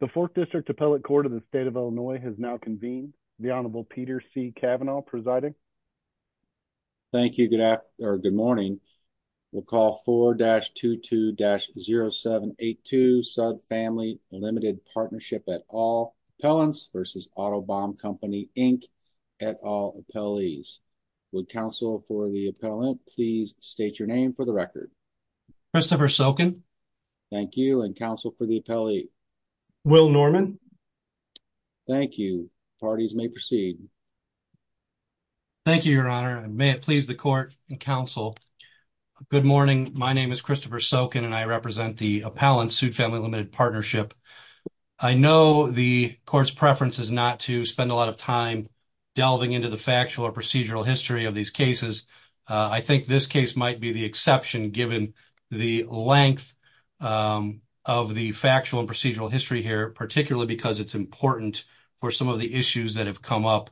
The 4th District Appellate Court of the State of Illinois has now convened. The Honorable Peter C. Kavanaugh presiding. Thank you. Good morning. We'll call 4-22-0782 Sudd Family Ltd. Partnership et al. Appellants v. Otto Baum Co., Inc. et al. Appellees. Would counsel for the appellant please state your name for the record. Christopher Sokin. Thank you. And counsel for the appellate. Will Norman. Thank you. Parties may proceed. Thank you, Your Honor. May it please the court and counsel. Good morning. My name is Christopher Sokin and I represent the appellant Sudd Family Ltd. Partnership. I know the court's preference is not to spend a lot of time delving into the factual or procedural history of these cases. I think this case might be the exception given the length of the factual and procedural history here, particularly because it's important for some of the issues that have come up.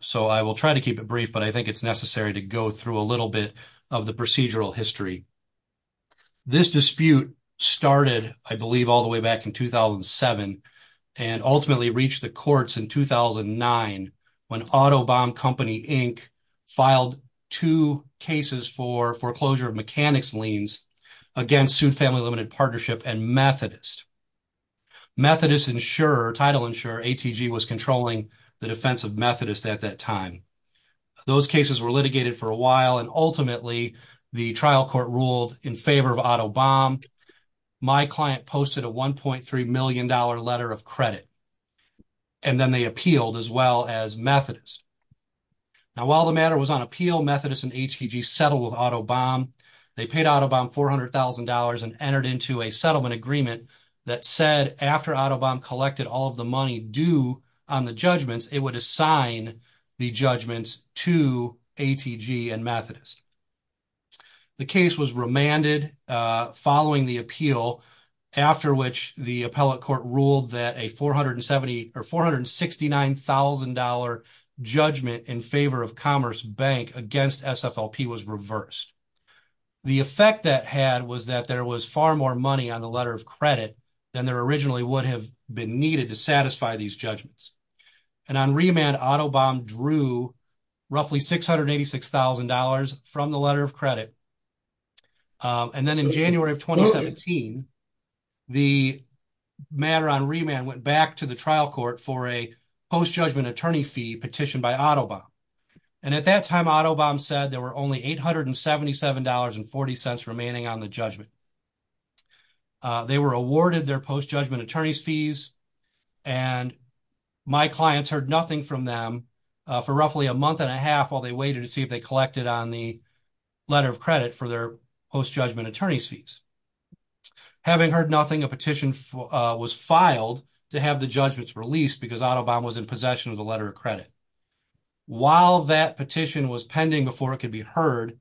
So I will try to keep it brief, but I think it's necessary to go through a little bit of the procedural history. This dispute started, I believe, all the way back in 2007 and ultimately reached the courts in 2009 when Otto Baum Co., Inc. filed two cases for foreclosure of mechanics liens against Sudd Family Ltd. Partnership and Methodist. Methodist insurer, title insurer, ATG, was controlling the defense of Methodist at that time. Those cases were litigated for a while and ultimately the trial court ruled in favor of Otto Baum. My client posted a $1.3 million letter of credit and then they appealed as well as Methodist. Now, while the matter was on appeal, Methodist and ATG settled with Otto Baum. They paid Otto Baum $400,000 and entered into a settlement agreement that said after Otto Baum collected all of the money due on the judgments, it would assign the judgments to ATG and Methodist. The case was remanded following the appeal, after which the appellate court ruled that a $469,000 judgment in favor of Commerce Bank against SFLP was reversed. The effect that had was that there was far more money on the letter of credit than there originally would have been needed to satisfy these judgments. And on remand, Otto Baum drew roughly $686,000 from the letter of credit. And then in January of 2017, the matter on remand went back to the trial court for a post-judgment attorney fee petitioned by Otto Baum. And at that time, Otto Baum said there were only $877.40 remaining on the judgment. They were awarded their post-judgment attorney's fees, and my clients heard nothing from them for roughly a month and a half while they waited to see if they collected on the letter of credit for their post-judgment attorney's fees. Having heard nothing, a petition was filed to have the judgments released because Otto Baum was in possession of the letter of credit. While that petition was pending before it could be heard,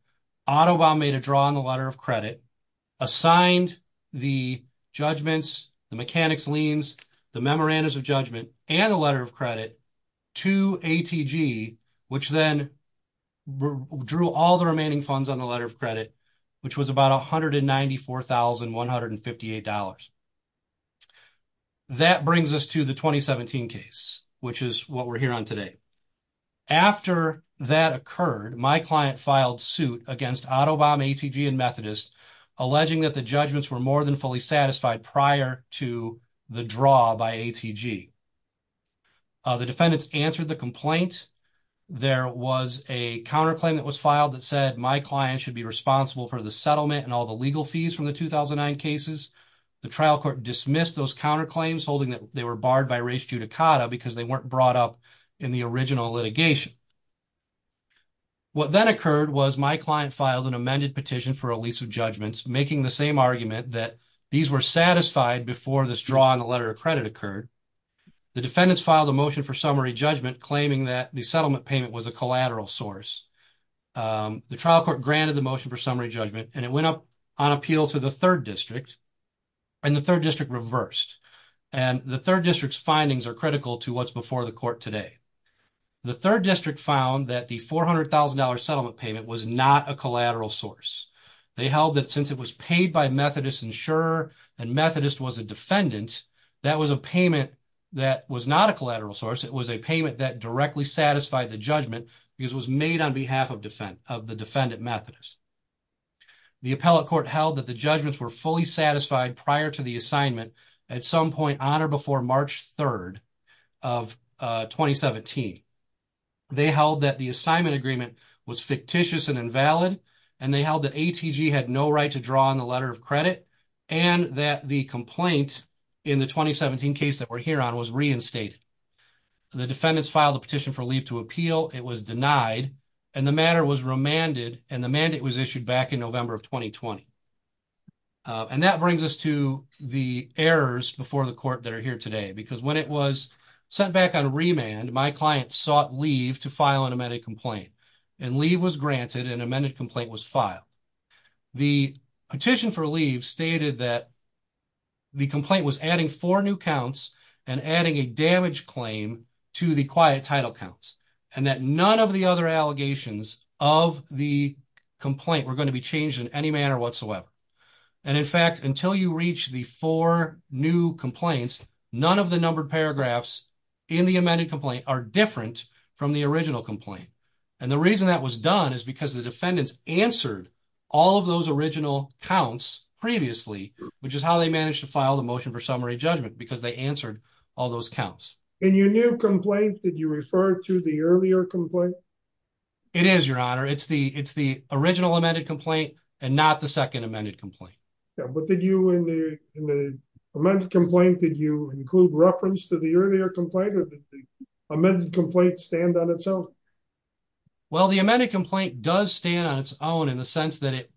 Otto Baum made a draw on the letter of credit, assigned the judgments, the mechanics liens, the memorandums of judgment, and the letter of credit to ATG, which then drew all the remaining funds on the letter of credit, which was about $194,158. That brings us to the 2017 case, which is what we're here on today. After that occurred, my client filed suit against Otto Baum, ATG, and Methodist, alleging that the judgments were more than fully satisfied prior to the draw by ATG. The defendants answered the complaint. There was a counterclaim that was filed that said my client should be responsible for the settlement and all the legal fees from the 2009 cases. The trial court dismissed those counterclaims, holding that they were barred by res judicata because they weren't brought up in the original litigation. What then occurred was my client filed an amended petition for a lease of judgments, making the same argument that these were satisfied before this draw on the letter of credit occurred. The defendants filed a motion for summary judgment, claiming that the settlement payment was a collateral source. The trial court granted the motion for summary judgment, and it went up on appeal to the 3rd District, and the 3rd District reversed. The 3rd District's findings are critical to what's before the court today. The 3rd District found that the $400,000 settlement payment was not a collateral source. They held that since it was paid by Methodist insurer and Methodist was a defendant, that was a payment that was not a collateral source. It was a payment that directly satisfied the judgment because it was made on behalf of the defendant Methodist. The appellate court held that the judgments were fully satisfied prior to the assignment at some point on or before March 3rd of 2017. They held that the assignment agreement was fictitious and invalid, and they held that ATG had no right to draw on the letter of credit, and that the complaint in the 2017 case that we're here on was reinstated. The defendants filed a petition for leave to appeal. It was denied, and the matter was remanded, and the mandate was issued back in November of 2020. And that brings us to the errors before the court that are here today, because when it was sent back on remand, my client sought leave to file an amended complaint, and leave was granted and amended complaint was filed. The petition for leave stated that the complaint was adding four new counts and adding a damage claim to the quiet title counts, and that none of the other allegations of the complaint were going to be changed in any manner whatsoever. And in fact, until you reach the four new complaints, none of the numbered paragraphs in the amended complaint are different from the original complaint. And the reason that was done is because the defendants answered all of those original counts previously, which is how they managed to file the motion for summary judgment, because they answered all those counts. And your new complaint, did you refer to the earlier complaint? It is, Your Honor. It's the original amended complaint and not the second amended complaint. But did you, in the amended complaint, did you include reference to the earlier complaint or did the amended complaint stand on its own? Well, the amended complaint does stand on its own in the sense that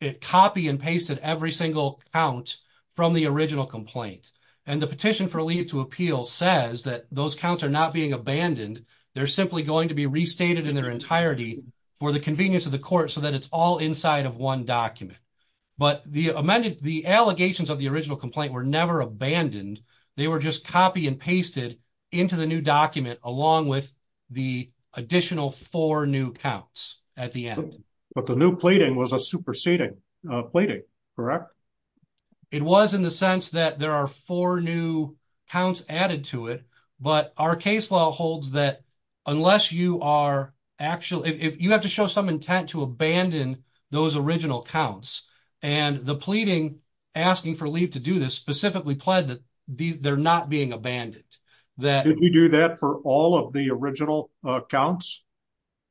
it copy and pasted every single count from the original complaint. And the petition for leave to appeal says that those counts are not being abandoned, they're simply going to be restated in their entirety for the convenience of the court so that it's all inside of one document. But the allegations of the original complaint were never abandoned. They were just copy and pasted into the new document along with the additional four new counts at the end. But the new plating was a superseding plating, correct? It was in the sense that there are four new counts added to it. But our case law holds that unless you are actually, if you have to show some intent to abandon those original counts, and the pleading asking for leave to do this specifically pled that they're not being abandoned. Did we do that for all of the original counts?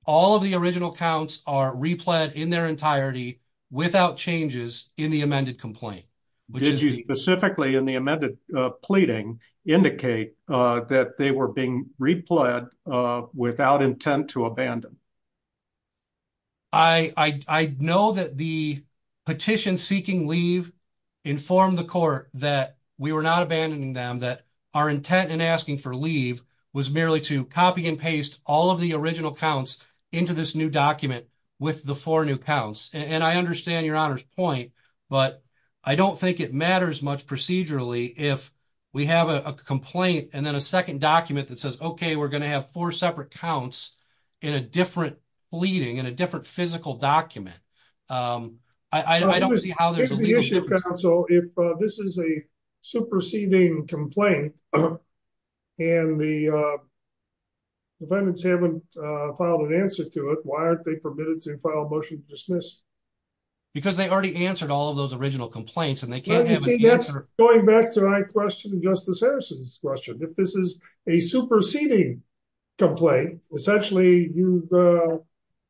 All of the original counts are repled in their entirety without changes in the amended complaint. Did you specifically in the amended pleading indicate that they were being repled without intent to abandon? I know that the petition seeking leave informed the court that we were not abandoning them, that our intent in asking for leave was merely to copy and paste all of the original counts into this new document with the four new counts. And I understand your honor's point, but I don't think it matters much procedurally if we have a complaint and then a second document that says, okay, we're going to have four separate counts in a different pleading in a different physical document. I don't see how there's a legal difference. If this is a superseding complaint, and the defendants haven't filed an answer to it, why aren't they permitted to file a motion to dismiss? Because they already answered all of those original complaints and they can't have an answer. Going back to my question, Justice Harrison's question, if this is a superseding complaint, essentially you're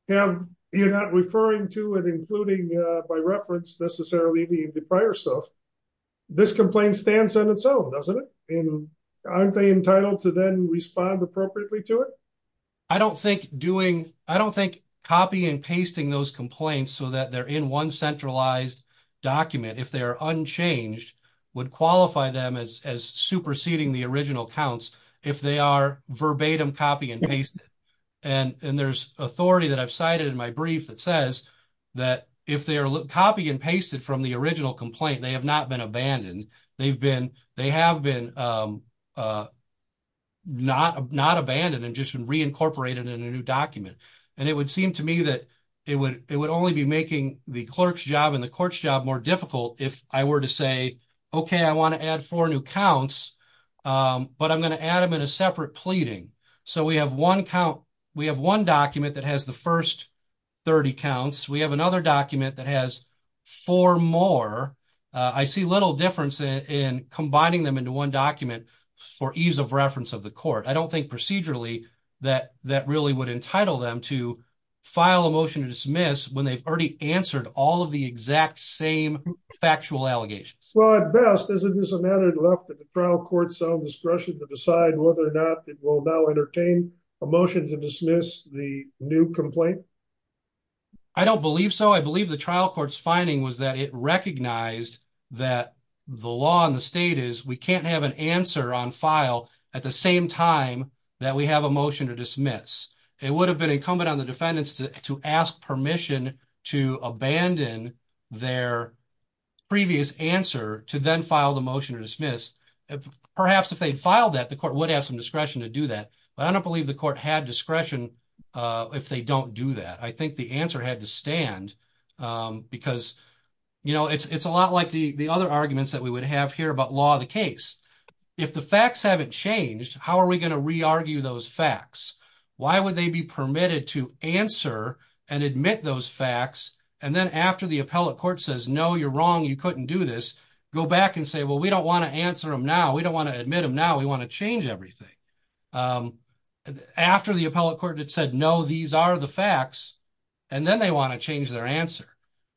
not referring to it, including by reference necessarily the prior stuff, this complaint stands on its own, doesn't it? And aren't they entitled to then respond appropriately to it? I don't think copy and pasting those complaints so that they're in one centralized document, if they're unchanged, would qualify them as superseding the original counts if they are verbatim copy and pasted. And there's authority that I've cited in my brief that says that if they are copy and pasted from the original complaint, they have not been abandoned. They have been not abandoned and just been reincorporated in a new document. And it would seem to me that it would only be making the clerk's job and the court's job more difficult if I were to say, okay, I want to add four new counts, but I'm going to add them in a separate pleading. So we have one count, we have one document that has the first 30 counts. We have another document that has four more. I see little difference in combining them into one document for ease of reference of the court. I don't think procedurally that that really would entitle them to file a motion to dismiss when they've already answered all of the exact same factual allegations. Well, at best, isn't this a matter left to the trial court's own discretion to decide whether or not it will now entertain a motion to dismiss the new complaint? I don't believe so. I believe the trial court's finding was that it recognized that the law in the state is we can't have an answer on file at the same time that we have a motion to dismiss. It would have been incumbent on the defendants to ask permission to abandon their previous answer to then file the motion to dismiss. Perhaps if they'd filed that, the court would have some discretion to do that. But I don't believe the court had discretion if they don't do that. I think the answer had to stand because it's a lot like the other arguments that we would have here about law of the case. If the facts haven't changed, how are we going to re-argue those facts? Why would they be permitted to answer and admit those facts? And then after the appellate court says, no, you're wrong, you couldn't do this, go back and say, well, we don't want to answer them now. We don't want to admit them now. We want to change everything. After the appellate court had said, no, these are the facts, and then they want to change their answer.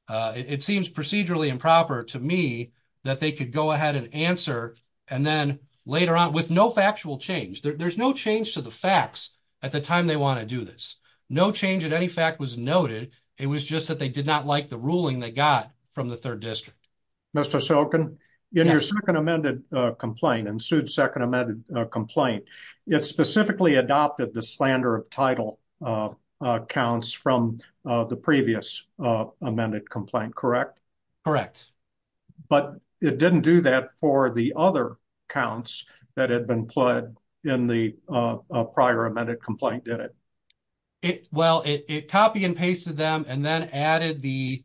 It seems procedurally improper to me that they could go ahead and answer. And then later on, with no factual change, there's no change to the facts at the time they want to do this. No change in any fact was noted. It was just that they did not like the ruling they got from the third district. Mr. Sokin, in your second amended complaint and sued second amended complaint, it specifically adopted the slander of title accounts from the previous amended complaint, correct? Correct. But it didn't do that for the other counts that had been pled in the prior amended complaint, did it? Well, it copy and pasted them and then added the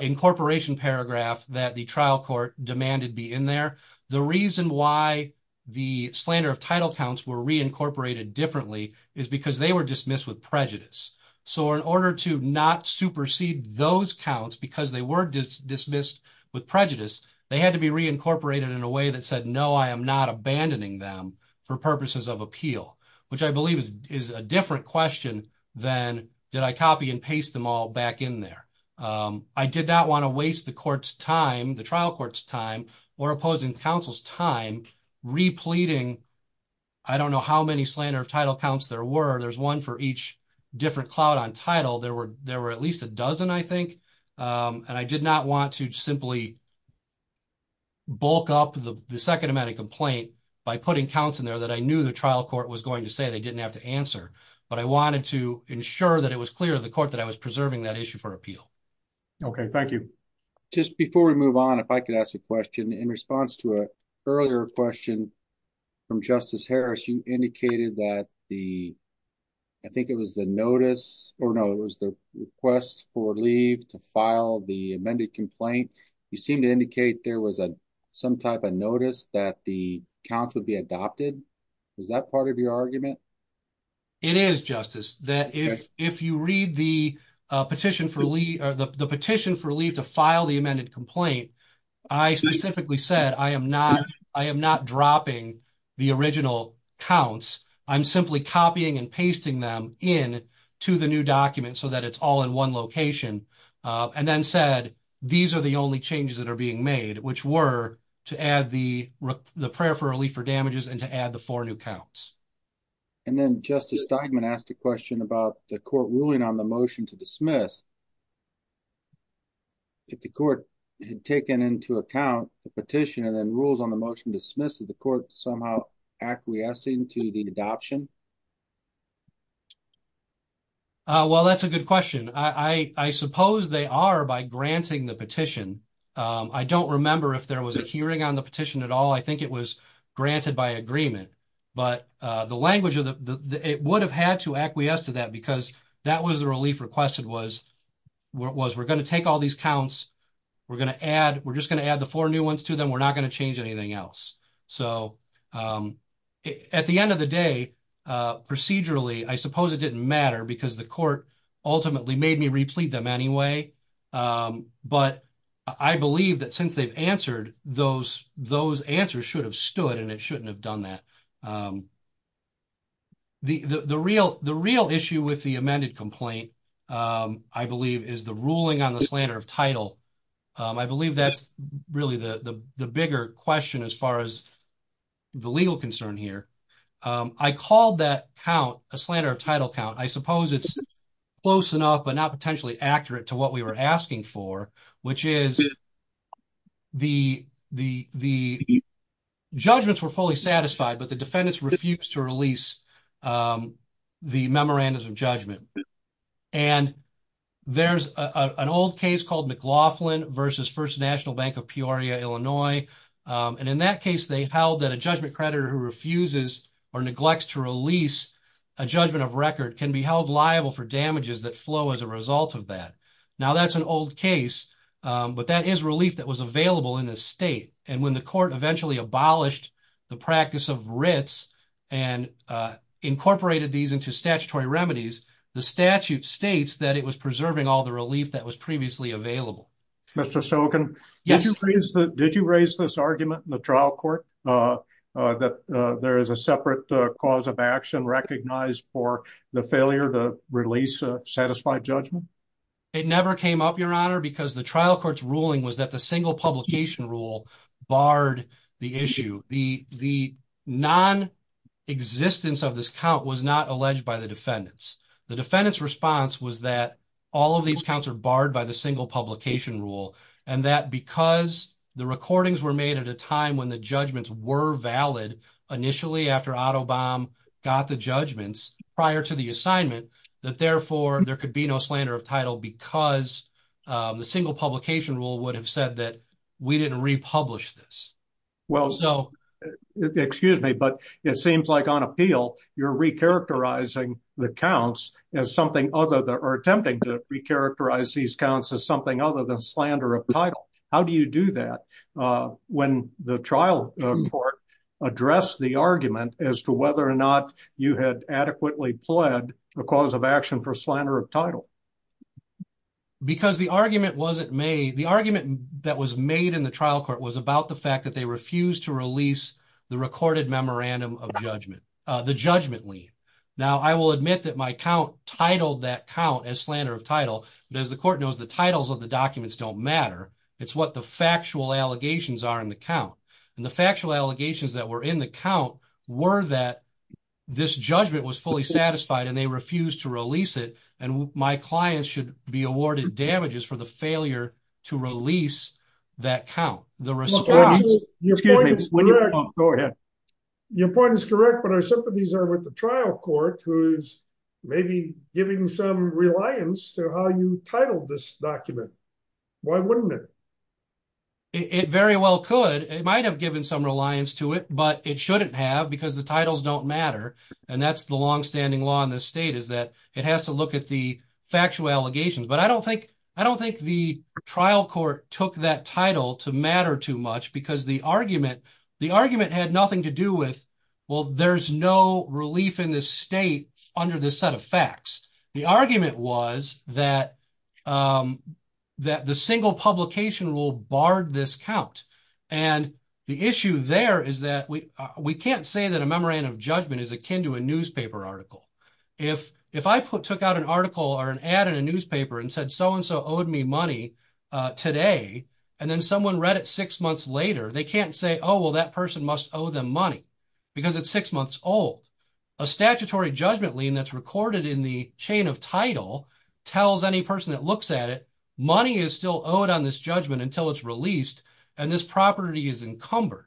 incorporation paragraph that the trial court demanded be in there. The reason why the slander of title counts were reincorporated differently is because they were dismissed with prejudice. So in order to not supersede those counts, because they were dismissed with prejudice, they had to be reincorporated in a way that said, no, I am not abandoning them for purposes of appeal, which I believe is a different question than did I copy and paste them all back in there? I did not want to waste the court's time, the trial court's time or opposing counsel's time repleting. I don't know how many slander of title counts there were. There's one for each different cloud on title. There were there were at least a dozen, I think. And I did not want to simply. Bulk up the second amended complaint by putting counts in there that I knew the trial court was going to say they didn't have to answer, but I wanted to ensure that it was clear to the court that I was preserving that issue for appeal. OK, thank you. Just before we move on, if I could ask a question in response to a earlier question from Justice Harris, you indicated that the. I think it was the notice or no, it was the request for leave to file the amended complaint. You seem to indicate there was some type of notice that the count would be adopted. Is that part of your argument? It is justice that if if you read the petition for Lee or the petition for leave to file the amended complaint, I specifically said I am not I am not dropping the original counts. I'm simply copying and pasting them in to the new document so that it's all in one location. And then said these are the only changes that are being made, which were to add the the prayer for relief for damages and to add the four new counts. And then Justice Steinman asked a question about the court ruling on the motion to dismiss. If the court had taken into account the petition and then rules on the motion dismisses the court somehow acquiescing to the adoption. Well, that's a good question. I suppose they are by granting the petition. I don't remember if there was a hearing on the petition at all. I think it was granted by agreement. But the language of the it would have had to acquiesce to that because that was the relief requested was was we're going to take all these counts. We're going to add we're just going to add the four new ones to them. We're not going to change anything else. So at the end of the day, procedurally, I suppose it didn't matter because the court ultimately made me replete them anyway. But I believe that since they've answered those, those answers should have stood and it shouldn't have done that. The real the real issue with the amended complaint, I believe, is the ruling on the slander of title. I believe that's really the bigger question as far as the legal concern here. I called that count a slander of title count. I suppose it's close enough, but not potentially accurate to what we were asking for, which is. The the the judgments were fully satisfied, but the defendants refused to release the memorandums of judgment. And there's an old case called McLaughlin versus First National Bank of Peoria, Illinois. And in that case, they held that a judgment creditor who refuses or neglects to release a judgment of record can be held liable for damages that flow as a result of that. Now, that's an old case, but that is relief that was available in the state. And when the court eventually abolished the practice of Ritz and incorporated these into statutory remedies, the statute states that it was preserving all the relief that was previously available. Mr. Sokin. Yes. Did you raise this argument in the trial court that there is a separate cause of action recognized for the failure to release a satisfied judgment? It never came up, Your Honor, because the trial court's ruling was that the single publication rule barred the issue. The non-existence of this count was not alleged by the defendants. The defendants' response was that all of these counts are barred by the single publication rule, and that because the recordings were made at a time when the judgments were valid, initially after Otto Baum got the judgments prior to the assignment, that therefore there could be no slander of title because the single publication rule would have said that we didn't republish this. Well, so excuse me, but it seems like on appeal, you're recharacterizing the counts as something other than, or attempting to recharacterize these counts as something other than slander of title. How do you do that when the trial court addressed the argument as to whether or not you had adequately pled a cause of action for slander of title? Because the argument that was made in the trial court was about the fact that they refused to release the recorded memorandum of judgment, the judgment lien. Now, I will admit that my count titled that count as slander of title, but as the court knows, the titles of the documents don't matter. It's what the factual allegations are in the count. And the factual allegations that were in the count were that this judgment was fully satisfied and they refused to release it, and my clients should be awarded damages for the failure to release that count. Your point is correct, but our sympathies are with the trial court who's maybe giving some reliance to how you titled this document. Why wouldn't it? It very well could. It might have given some reliance to it, but it shouldn't have because the titles don't matter. And that's the longstanding law in this state is that it has to look at the factual allegations. But I don't think the trial court took that title to matter too much because the argument had nothing to do with, well, there's no relief in this state under this set of facts. The argument was that the single publication rule barred this count. And the issue there is that we can't say that a memorandum of judgment is akin to a newspaper article. If I took out an article or an ad in a newspaper and said, so-and-so owed me money today, and then someone read it six months later, they can't say, oh, well, that person must owe them money because it's six months old. A statutory judgment lien that's recorded in the chain of title tells any person that looks at it, money is still owed on this judgment until it's released and this property is encumbered.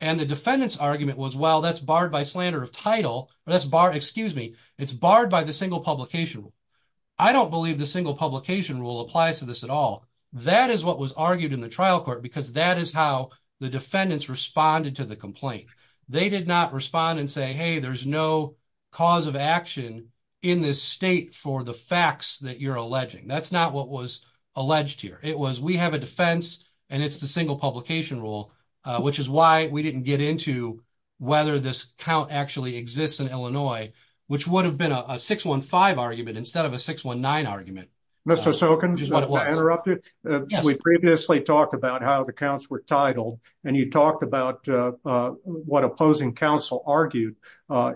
And the defendant's argument was, well, that's barred by slander of title. Excuse me, it's barred by the single publication rule. I don't believe the single publication rule applies to this at all. That is what was argued in the trial court because that is how the defendants responded to the complaint. They did not respond and say, hey, there's no cause of action in this state for the facts that you're alleging. That's not what was alleged here. It was we have a defense and it's the single publication rule, which is why we didn't get into whether this count actually exists in Illinois, which would have been a 6-1-5 argument instead of a 6-1-9 argument. Mr. Sokin, if I can interrupt you. We previously talked about how the counts were titled and you talked about what opposing counsel argued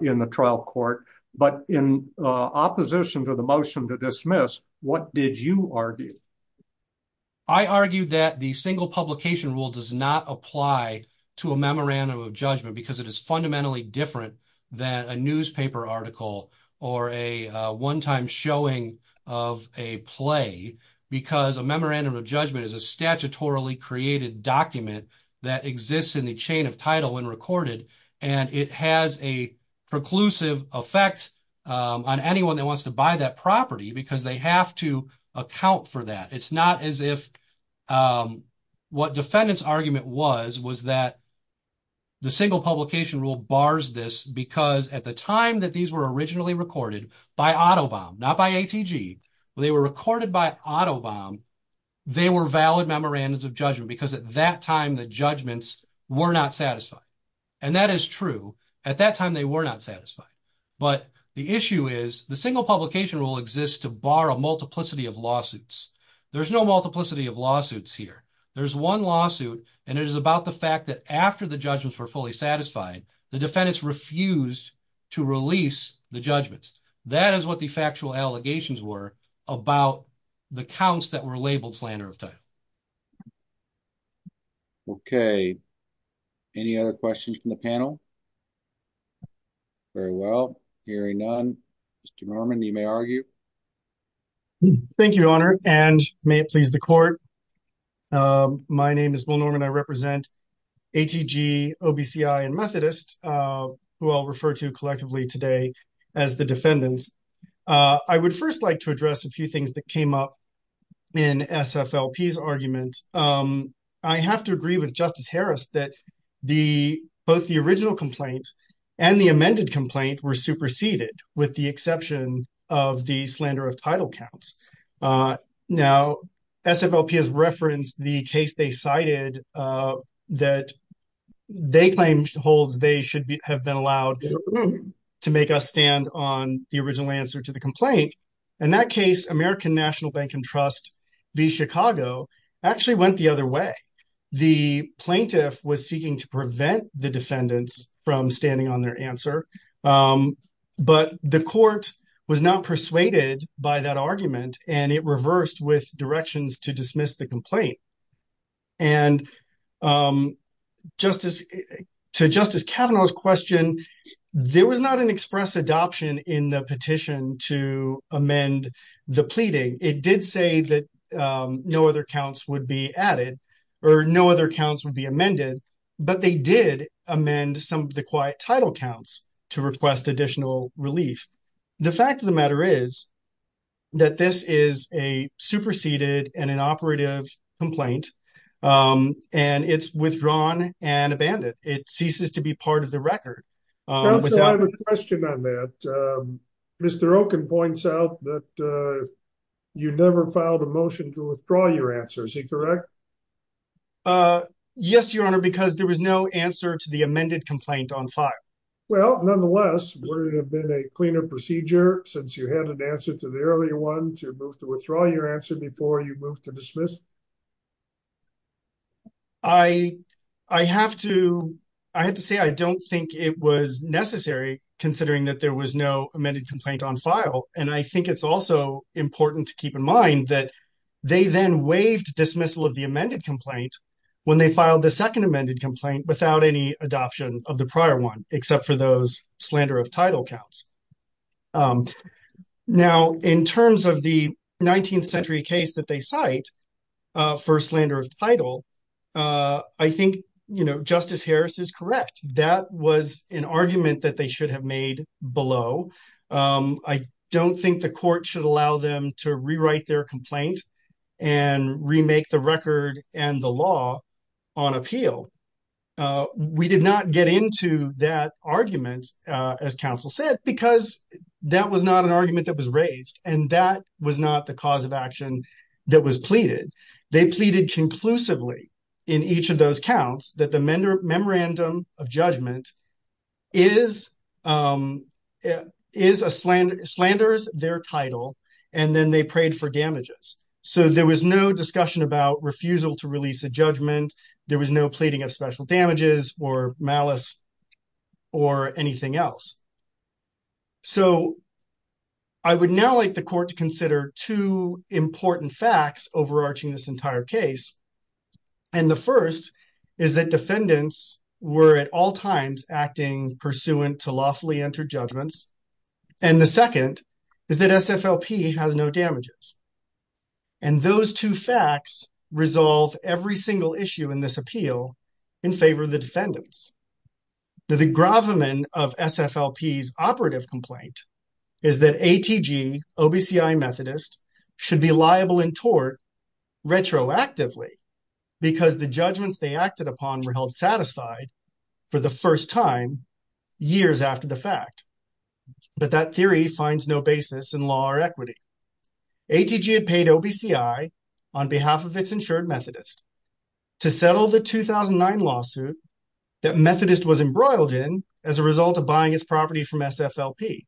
in the trial court. But in opposition to the motion to dismiss, what did you argue? I argue that the single publication rule does not apply to a memorandum of judgment because it is fundamentally different than a newspaper article or a one time showing of a play because a memorandum of judgment is a statutorily created document that exists in the chain of title when recorded. And it has a preclusive effect on anyone that wants to buy that property because they have to account for that. It's not as if what defendants argument was, was that the single publication rule bars this because at the time that these were originally recorded by autobomb, not by ATG, they were recorded by autobomb, they were valid memorandums of judgment because at that time the judgments were not satisfied. And that is true. At that time they were not satisfied. But the issue is the single publication rule exists to bar a multiplicity of lawsuits. There's no multiplicity of lawsuits here. There's one lawsuit and it is about the fact that after the judgments were fully satisfied, the defendants refused to release the judgments. That is what the factual allegations were about the counts that were labeled slander of title. Okay. Any other questions from the panel? Very well. Hearing none. Mr. Norman, you may argue. Thank you, Honor, and may it please the court. My name is Will Norman. I represent ATG, OBCI and Methodist, who I'll refer to collectively today as the defendants. I would first like to address a few things that came up in SFLP's argument. I have to agree with Justice Harris that the both the original complaint and the amended complaint were superseded with the exception of the slander of title counts. Now, SFLP has referenced the case they cited that they claim holds they should have been allowed to make us stand on the original answer to the complaint. In that case, American National Bank and Trust v. Chicago actually went the other way. The plaintiff was seeking to prevent the defendants from standing on their answer. But the court was not persuaded by that argument, and it reversed with directions to dismiss the complaint. And to Justice Kavanaugh's question, there was not an express adoption in the petition to amend the pleading. It did say that no other counts would be added or no other counts would be amended, but they did amend some of the quiet title counts to request additional relief. The fact of the matter is that this is a superseded and an operative complaint, and it's withdrawn and abandoned. It ceases to be part of the record. Counsel, I have a question on that. Mr. Oken points out that you never filed a motion to withdraw your answer. Is he correct? Yes, Your Honor, because there was no answer to the amended complaint on file. Well, nonetheless, would it have been a cleaner procedure since you had an answer to the earlier one to withdraw your answer before you moved to dismiss? I have to say I don't think it was necessary, considering that there was no amended complaint on file. And I think it's also important to keep in mind that they then waived dismissal of the amended complaint when they filed the second amended complaint without any adoption of the prior one, except for those slander of title counts. Now, in terms of the 19th century case that they cite for slander of title, I think Justice Harris is correct. That was an argument that they should have made below. I don't think the court should allow them to rewrite their complaint and remake the record and the law on appeal. We did not get into that argument, as counsel said, because that was not an argument that was raised and that was not the cause of action that was pleaded. They pleaded conclusively in each of those counts that the memorandum of judgment slanders their title, and then they prayed for damages. So there was no discussion about refusal to release a judgment. There was no pleading of special damages or malice or anything else. So I would now like the court to consider two important facts overarching this entire case. And the first is that defendants were at all times acting pursuant to lawfully entered judgments. And the second is that SFLP has no damages. And those two facts resolve every single issue in this appeal in favor of the defendants. The gravamen of SFLP's operative complaint is that ATG, OBCI Methodist, should be liable in tort retroactively because the judgments they acted upon were held satisfied for the first time years after the fact. But that theory finds no basis in law or equity. ATG had paid OBCI on behalf of its insured Methodist to settle the 2009 lawsuit that Methodist was embroiled in as a result of buying its property from SFLP.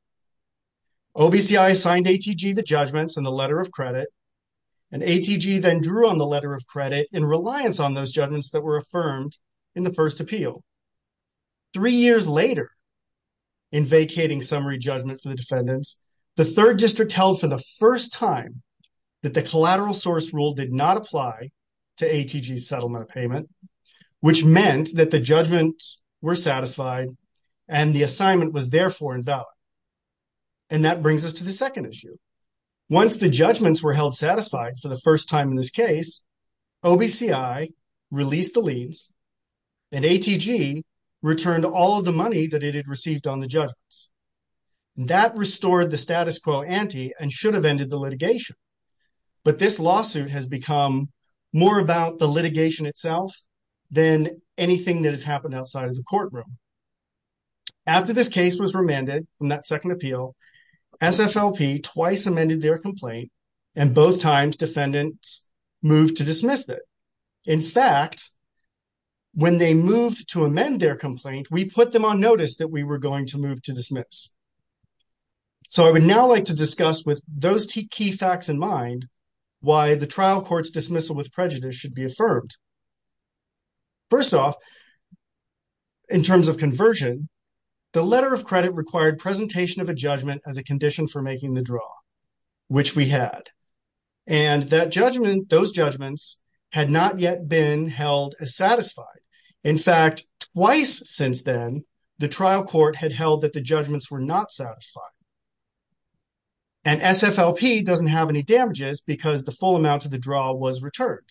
OBCI assigned ATG the judgments and the letter of credit, and ATG then drew on the letter of credit in reliance on those judgments that were affirmed in the first appeal. Three years later, in vacating summary judgment for the defendants, the third district held for the first time that the collateral source rule did not apply to ATG's settlement of payment, which meant that the judgments were satisfied and the assignment was therefore invalid. And that brings us to the second issue. Once the judgments were held satisfied for the first time in this case, OBCI released the liens, and ATG returned all of the money that it had received on the judgments. That restored the status quo ante and should have ended the litigation. But this lawsuit has become more about the litigation itself than anything that has happened outside of the courtroom. After this case was remanded in that second appeal, SFLP twice amended their complaint, and both times defendants moved to dismiss it. In fact, when they moved to amend their complaint, we put them on notice that we were going to move to dismiss. So I would now like to discuss with those key facts in mind why the trial court's dismissal with prejudice should be affirmed. First off, in terms of conversion, the letter of credit required presentation of a judgment as a condition for making the draw, which we had. And that judgment, those judgments, had not yet been held as satisfied. In fact, twice since then, the trial court had held that the judgments were not satisfied. And SFLP doesn't have any damages because the full amount of the draw was returned.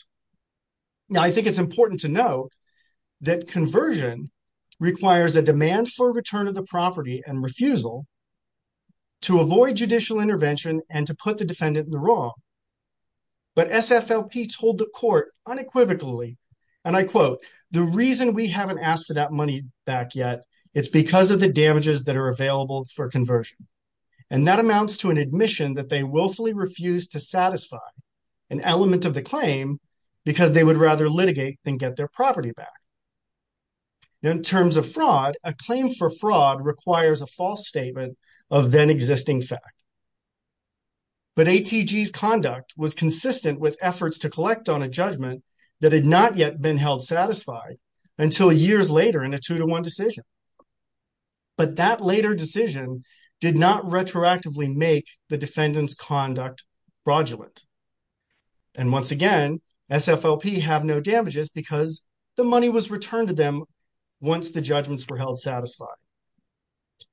Now, I think it's important to note that conversion requires a demand for return of the property and refusal to avoid judicial intervention and to put the defendant in the wrong. But SFLP told the court unequivocally, and I quote, the reason we haven't asked for that money back yet, it's because of the damages that are available for conversion. And that amounts to an admission that they willfully refused to satisfy an element of the claim because they would rather litigate than get their property back. In terms of fraud, a claim for fraud requires a false statement of then existing fact. But ATG's conduct was consistent with efforts to collect on a judgment that had not yet been held satisfied until years later in a two to one decision. But that later decision did not retroactively make the defendant's conduct fraudulent. And once again, SFLP have no damages because the money was returned to them once the judgments were held satisfied.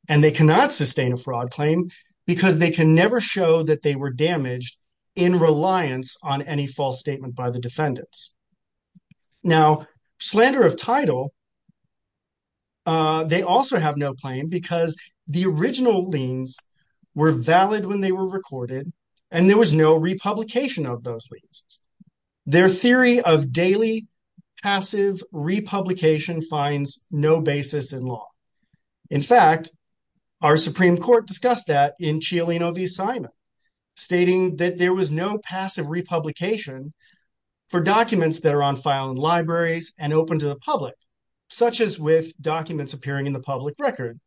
And they cannot sustain a fraud claim because they can never show that they were damaged in reliance on any false statement by the defendants. Now, slander of title. They also have no claim because the original liens were valid when they were recorded and there was no republication of those liens. Their theory of daily passive republication finds no basis in law. In fact, our Supreme Court discussed that in Cialino v. Simon, stating that there was no passive republication for documents that are on file in libraries and open to the public, such as with documents appearing in the public record.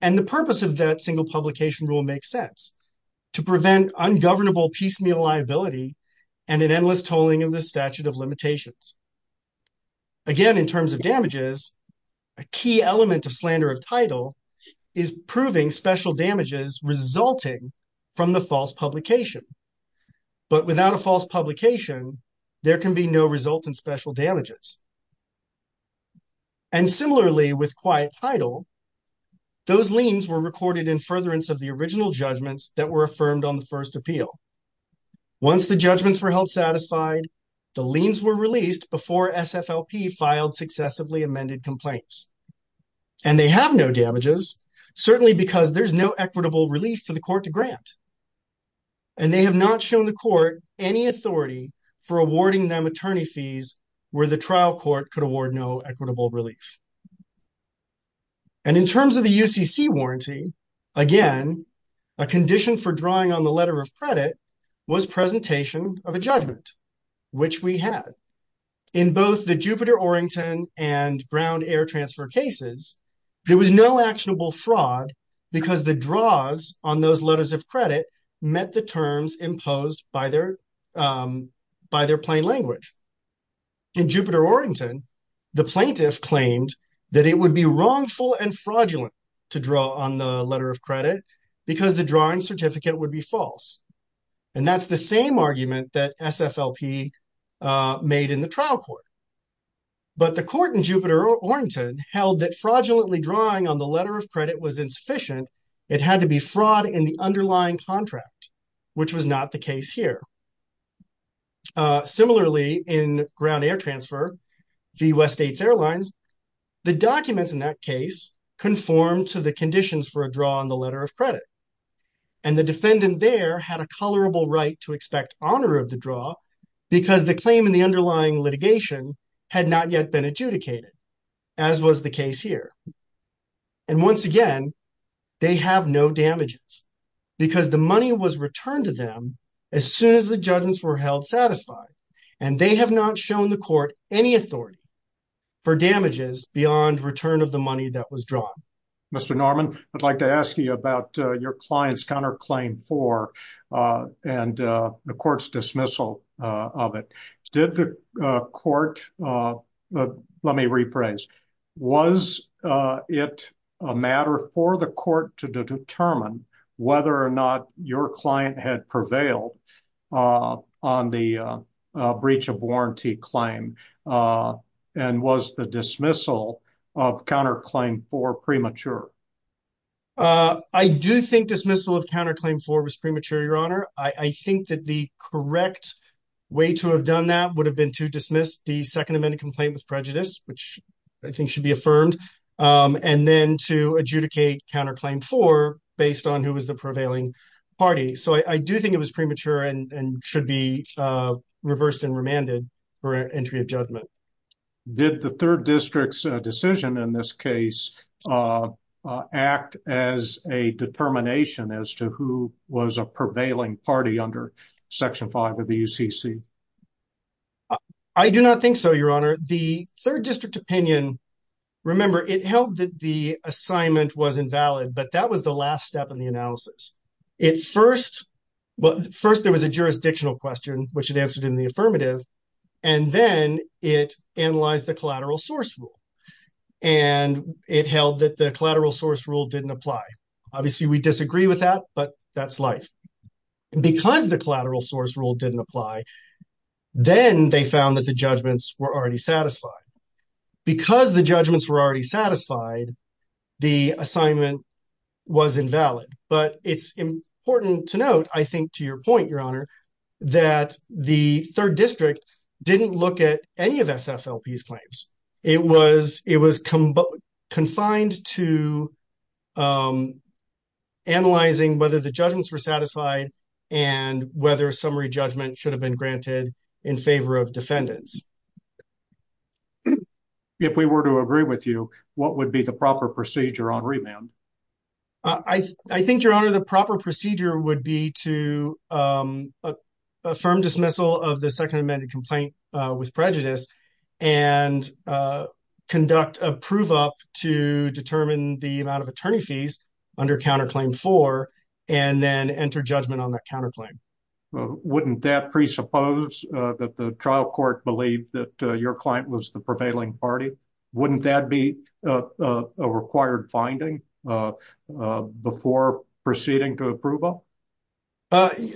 And the purpose of that single publication rule makes sense to prevent ungovernable piecemeal liability and an endless tolling of the statute of limitations. Again, in terms of damages, a key element of slander of title is proving special damages resulting from the false publication. But without a false publication, there can be no result in special damages. And similarly, with quiet title, those liens were recorded in furtherance of the original judgments that were affirmed on the first appeal. Once the judgments were held satisfied, the liens were released before SFLP filed successively amended complaints. And they have no damages, certainly because there's no equitable relief for the court to grant. And they have not shown the court any authority for awarding them attorney fees where the trial court could award no equitable relief. And in terms of the UCC warranty, again, a condition for drawing on the letter of credit was presentation of a judgment, which we had. In both the Jupiter-Orington and Brown Air Transfer cases, there was no actionable fraud because the draws on those letters of credit met the terms imposed by their plain language. In Jupiter-Orington, the plaintiff claimed that it would be wrongful and fraudulent to draw on the letter of credit because the drawing certificate would be false. And that's the same argument that SFLP made in the trial court. But the court in Jupiter-Orington held that fraudulently drawing on the letter of credit was insufficient. It had to be fraud in the underlying contract, which was not the case here. Similarly, in Brown Air Transfer v. West States Airlines, the documents in that case conform to the conditions for a draw on the letter of credit. And the defendant there had a colorable right to expect honor of the draw because the claim in the underlying litigation had not yet been adjudicated, as was the case here. And once again, they have no damages because the money was returned to them as soon as the judgments were held satisfied. And they have not shown the court any authority for damages beyond return of the money that was drawn. Mr. Norman, I'd like to ask you about your client's counterclaim for and the court's dismissal of it. Let me rephrase. Was it a matter for the court to determine whether or not your client had prevailed on the breach of warranty claim? And was the dismissal of counterclaim for premature? I do think dismissal of counterclaim for was premature, Your Honor. I think that the correct way to have done that would have been to dismiss the Second Amendment complaint with prejudice, which I think should be affirmed. And then to adjudicate counterclaim for based on who was the prevailing party. So I do think it was premature and should be reversed and remanded for entry of judgment. Did the third district's decision in this case act as a determination as to who was a prevailing party under Section 5 of the UCC? I do not think so, Your Honor. The third district opinion, remember, it held that the assignment was invalid, but that was the last step in the analysis. It first – well, first there was a jurisdictional question, which it answered in the affirmative, and then it analyzed the collateral source rule. And it held that the collateral source rule didn't apply. Obviously, we disagree with that, but that's life. Because the collateral source rule didn't apply, then they found that the judgments were already satisfied. Because the judgments were already satisfied, the assignment was invalid. But it's important to note, I think to your point, Your Honor, that the third district didn't look at any of SFLP's claims. It was confined to analyzing whether the judgments were satisfied and whether summary judgment should have been granted in favor of defendants. If we were to agree with you, what would be the proper procedure on remand? I think, Your Honor, the proper procedure would be to affirm dismissal of the Second Amendment complaint with prejudice and conduct a prove-up to determine the amount of attorney fees under Counterclaim 4 and then enter judgment on that counterclaim. Wouldn't that presuppose that the trial court believed that your client was the prevailing party? Wouldn't that be a required finding before proceeding to a prove-up?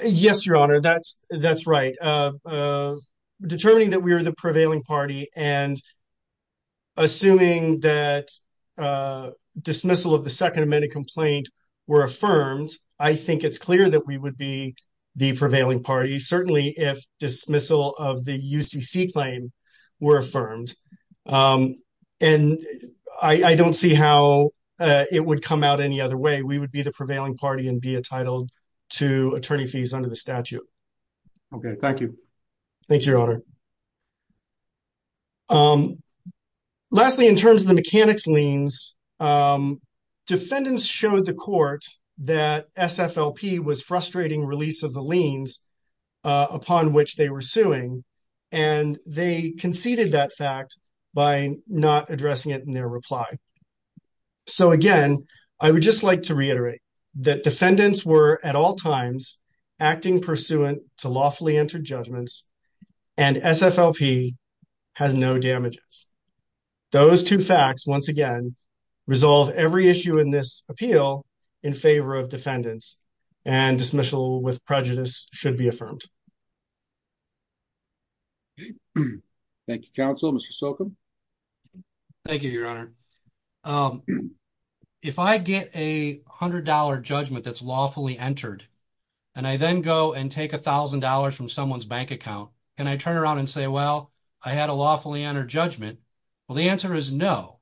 Yes, Your Honor, that's right. Determining that we are the prevailing party and assuming that dismissal of the Second Amendment complaint were affirmed, I think it's clear that we would be the prevailing party, certainly if dismissal of the UCC claim were affirmed. And I don't see how it would come out any other way. We would be the prevailing party and be entitled to attorney fees under the statute. Okay, thank you. Thank you, Your Honor. Lastly, in terms of the mechanics liens, defendants showed the court that SFLP was frustrating release of the liens upon which they were suing, and they conceded that fact by not addressing it in their reply. So again, I would just like to reiterate that defendants were at all times acting pursuant to lawfully entered judgments, and SFLP has no damages. Those two facts, once again, resolve every issue in this appeal in favor of defendants, and dismissal with prejudice should be affirmed. Thank you, counsel. Mr. Silcom? Thank you, Your Honor. If I get a $100 judgment that's lawfully entered, and I then go and take $1,000 from someone's bank account, and I turn around and say, well, I had a lawfully entered judgment, well, the answer is no.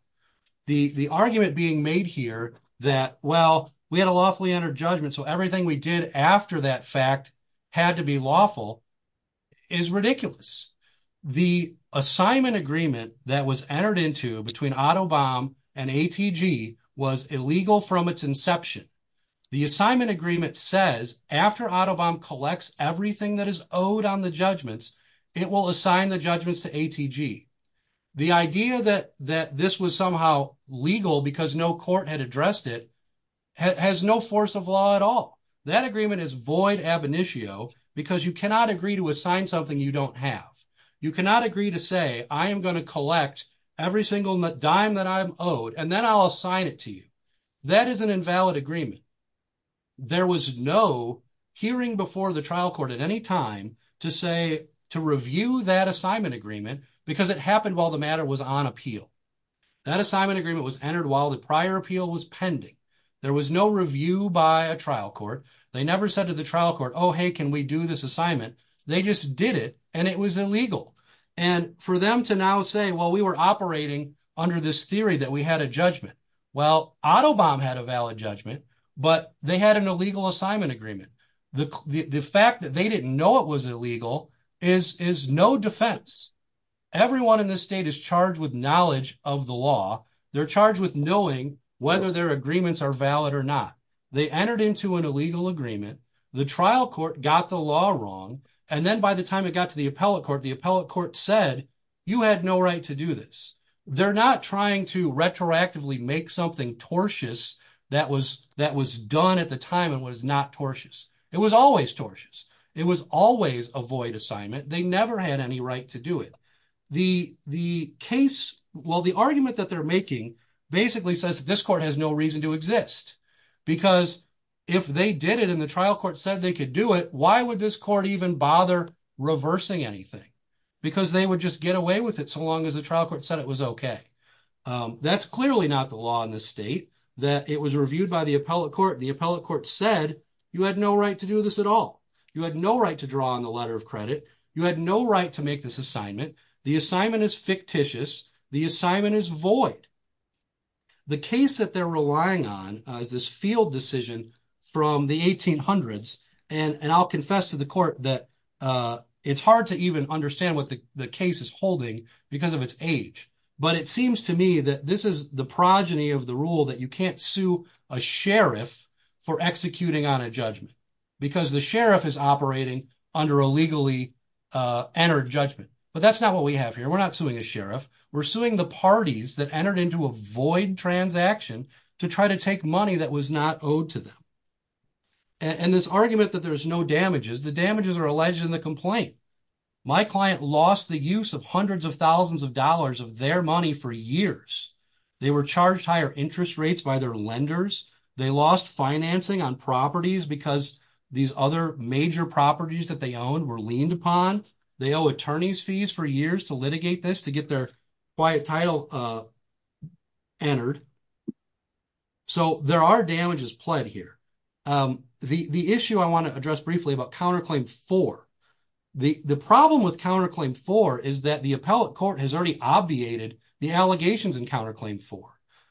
The argument being made here that, well, we had a lawfully entered judgment, so everything we did after that fact had to be lawful is ridiculous. The assignment agreement that was entered into between Autobahm and ATG was illegal from its inception. The assignment agreement says after Autobahm collects everything that is owed on the judgments, it will assign the judgments to ATG. The idea that this was somehow legal because no court had addressed it has no force of law at all. That agreement is void ab initio because you cannot agree to assign something you don't have. You cannot agree to say, I am going to collect every single dime that I'm owed, and then I'll assign it to you. That is an invalid agreement. There was no hearing before the trial court at any time to say, to review that assignment agreement, because it happened while the matter was on appeal. That assignment agreement was entered while the prior appeal was pending. There was no review by a trial court. They never said to the trial court, oh, hey, can we do this assignment? They just did it, and it was illegal. And for them to now say, well, we were operating under this theory that we had a judgment. Well, Autobahm had a valid judgment, but they had an illegal assignment agreement. The fact that they didn't know it was illegal is no defense. Everyone in this state is charged with knowledge of the law. They're charged with knowing whether their agreements are valid or not. They entered into an illegal agreement. The trial court got the law wrong, and then by the time it got to the appellate court, the appellate court said, you had no right to do this. They're not trying to retroactively make something tortious that was done at the time and was not tortious. It was always tortious. It was always a void assignment. They never had any right to do it. The case, well, the argument that they're making basically says that this court has no reason to exist. Because if they did it and the trial court said they could do it, why would this court even bother reversing anything? Because they would just get away with it so long as the trial court said it was okay. That's clearly not the law in this state, that it was reviewed by the appellate court. The appellate court said, you had no right to do this at all. You had no right to draw on the letter of credit. You had no right to make this assignment. The assignment is fictitious. The assignment is void. The case that they're relying on is this field decision from the 1800s. And I'll confess to the court that it's hard to even understand what the case is holding because of its age. But it seems to me that this is the progeny of the rule that you can't sue a sheriff for executing on a judgment. Because the sheriff is operating under a legally entered judgment. But that's not what we have here. We're not suing a sheriff. We're suing the parties that entered into a void transaction to try to take money that was not owed to them. And this argument that there's no damages, the damages are alleged in the complaint. My client lost the use of hundreds of thousands of dollars of their money for years. They were charged higher interest rates by their lenders. They lost financing on properties because these other major properties that they owned were leaned upon. They owe attorney's fees for years to litigate this to get their quiet title entered. So there are damages pled here. The issue I want to address briefly about counterclaim 4. The problem with counterclaim 4 is that the appellate court has already obviated the allegations in counterclaim 4.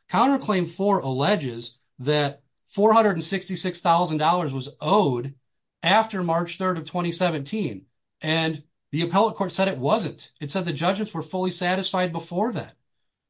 Counterclaim 4 alleges that $466,000 was owed after March 3rd of 2017. And the appellate court said it wasn't. It said the judgments were fully satisfied before that.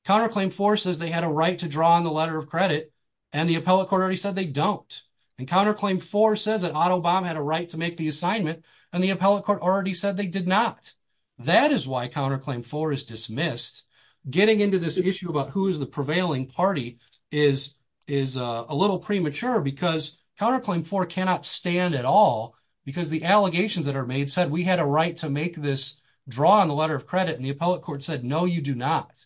Counterclaim 4 says they had a right to draw on the letter of credit. And the appellate court already said they don't. And counterclaim 4 says that Otto Baum had a right to make the assignment. And the appellate court already said they did not. That is why counterclaim 4 is dismissed. Getting into this issue about who is the prevailing party is a little premature. Because counterclaim 4 cannot stand at all. Because the allegations that are made said we had a right to make this draw on the letter of credit. And the appellate court said no you do not.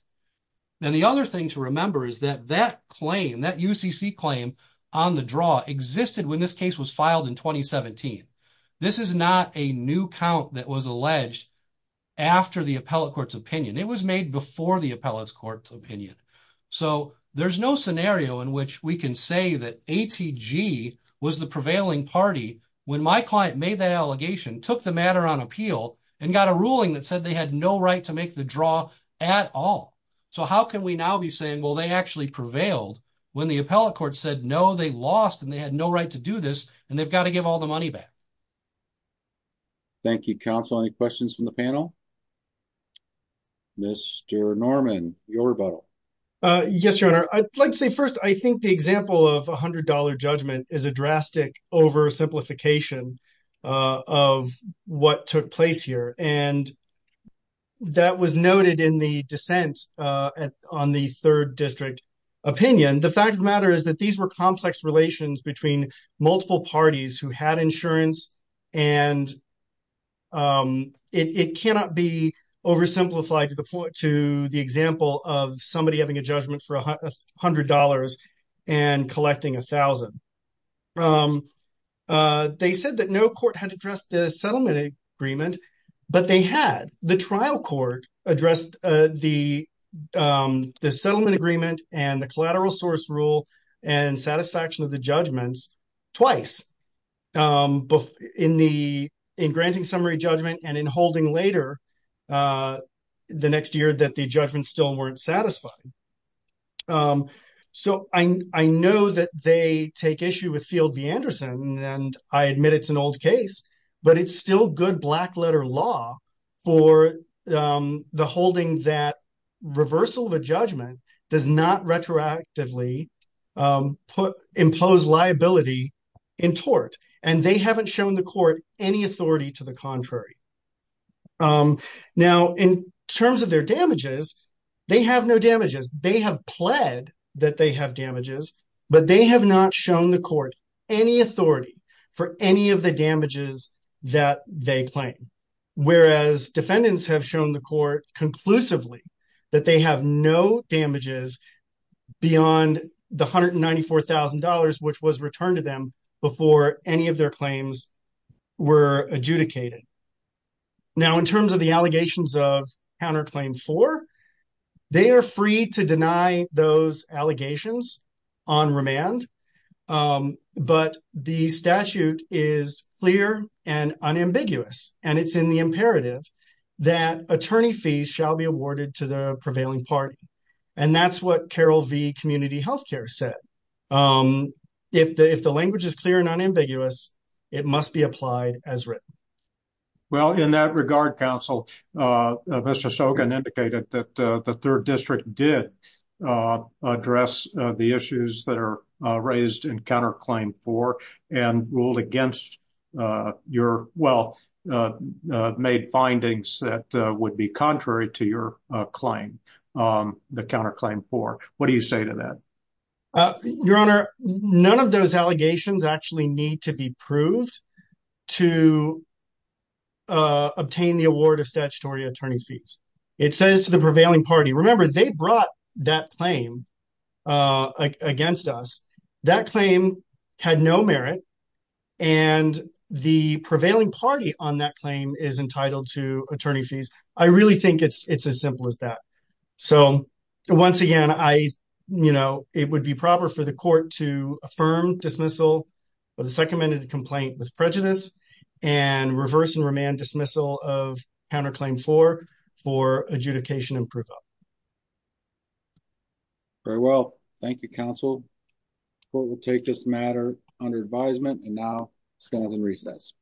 And the other thing to remember is that that claim, that UCC claim on the draw existed when this case was filed in 2017. This is not a new count that was alleged after the appellate court's opinion. It was made before the appellate court's opinion. So there's no scenario in which we can say that ATG was the prevailing party when my client made that allegation, took the matter on appeal, and got a ruling that said they had no right to make the draw at all. So how can we now be saying well they actually prevailed when the appellate court said no, they lost and they had no right to do this and they've got to give all the money back. Thank you counsel. Any questions from the panel? Mr. Norman, your rebuttal. Yes, your honor. I'd like to say first I think the example of $100 judgment is a drastic oversimplification of what took place here. And that was noted in the dissent on the third district opinion. The fact of the matter is that these were complex relations between multiple parties who had insurance. And it cannot be oversimplified to the point to the example of somebody having a judgment for $100 and collecting $1,000. They said that no court had addressed the settlement agreement, but they had. The trial court addressed the settlement agreement and the collateral source rule and satisfaction of the judgments twice. In granting summary judgment and in holding later the next year that the judgments still weren't satisfied. So I know that they take issue with Field v. Anderson and I admit it's an old case, but it's still good black letter law for the holding that reversal of a judgment does not retroactively impose liability in tort. And they haven't shown the court any authority to the contrary. Now, in terms of their damages, they have no damages. They have pled that they have damages, but they have not shown the court any authority for any of the damages that they claim. Whereas defendants have shown the court conclusively that they have no damages beyond the $194,000, which was returned to them before any of their claims were adjudicated. Now, in terms of the allegations of counterclaim for, they are free to deny those allegations on remand. But the statute is clear and unambiguous, and it's in the imperative that attorney fees shall be awarded to the prevailing party. And that's what Carol v. Community Health Care said. If the language is clear and unambiguous, it must be applied as written. Well, in that regard, counsel, Mr. Sogan indicated that the third district did address the issues that are raised in counterclaim for and ruled against your well made findings that would be contrary to your claim. The counterclaim for what do you say to that? Your Honor, none of those allegations actually need to be proved to obtain the award of statutory attorney fees. It says to the prevailing party, remember, they brought that claim against us. That claim had no merit, and the prevailing party on that claim is entitled to attorney fees. I really think it's as simple as that. So, once again, it would be proper for the court to affirm dismissal of the second amended complaint with prejudice and reverse and remand dismissal of counterclaim for, for adjudication and proof of. Very well. Thank you, counsel. Court will take this matter under advisement, and now it's going to be in recess.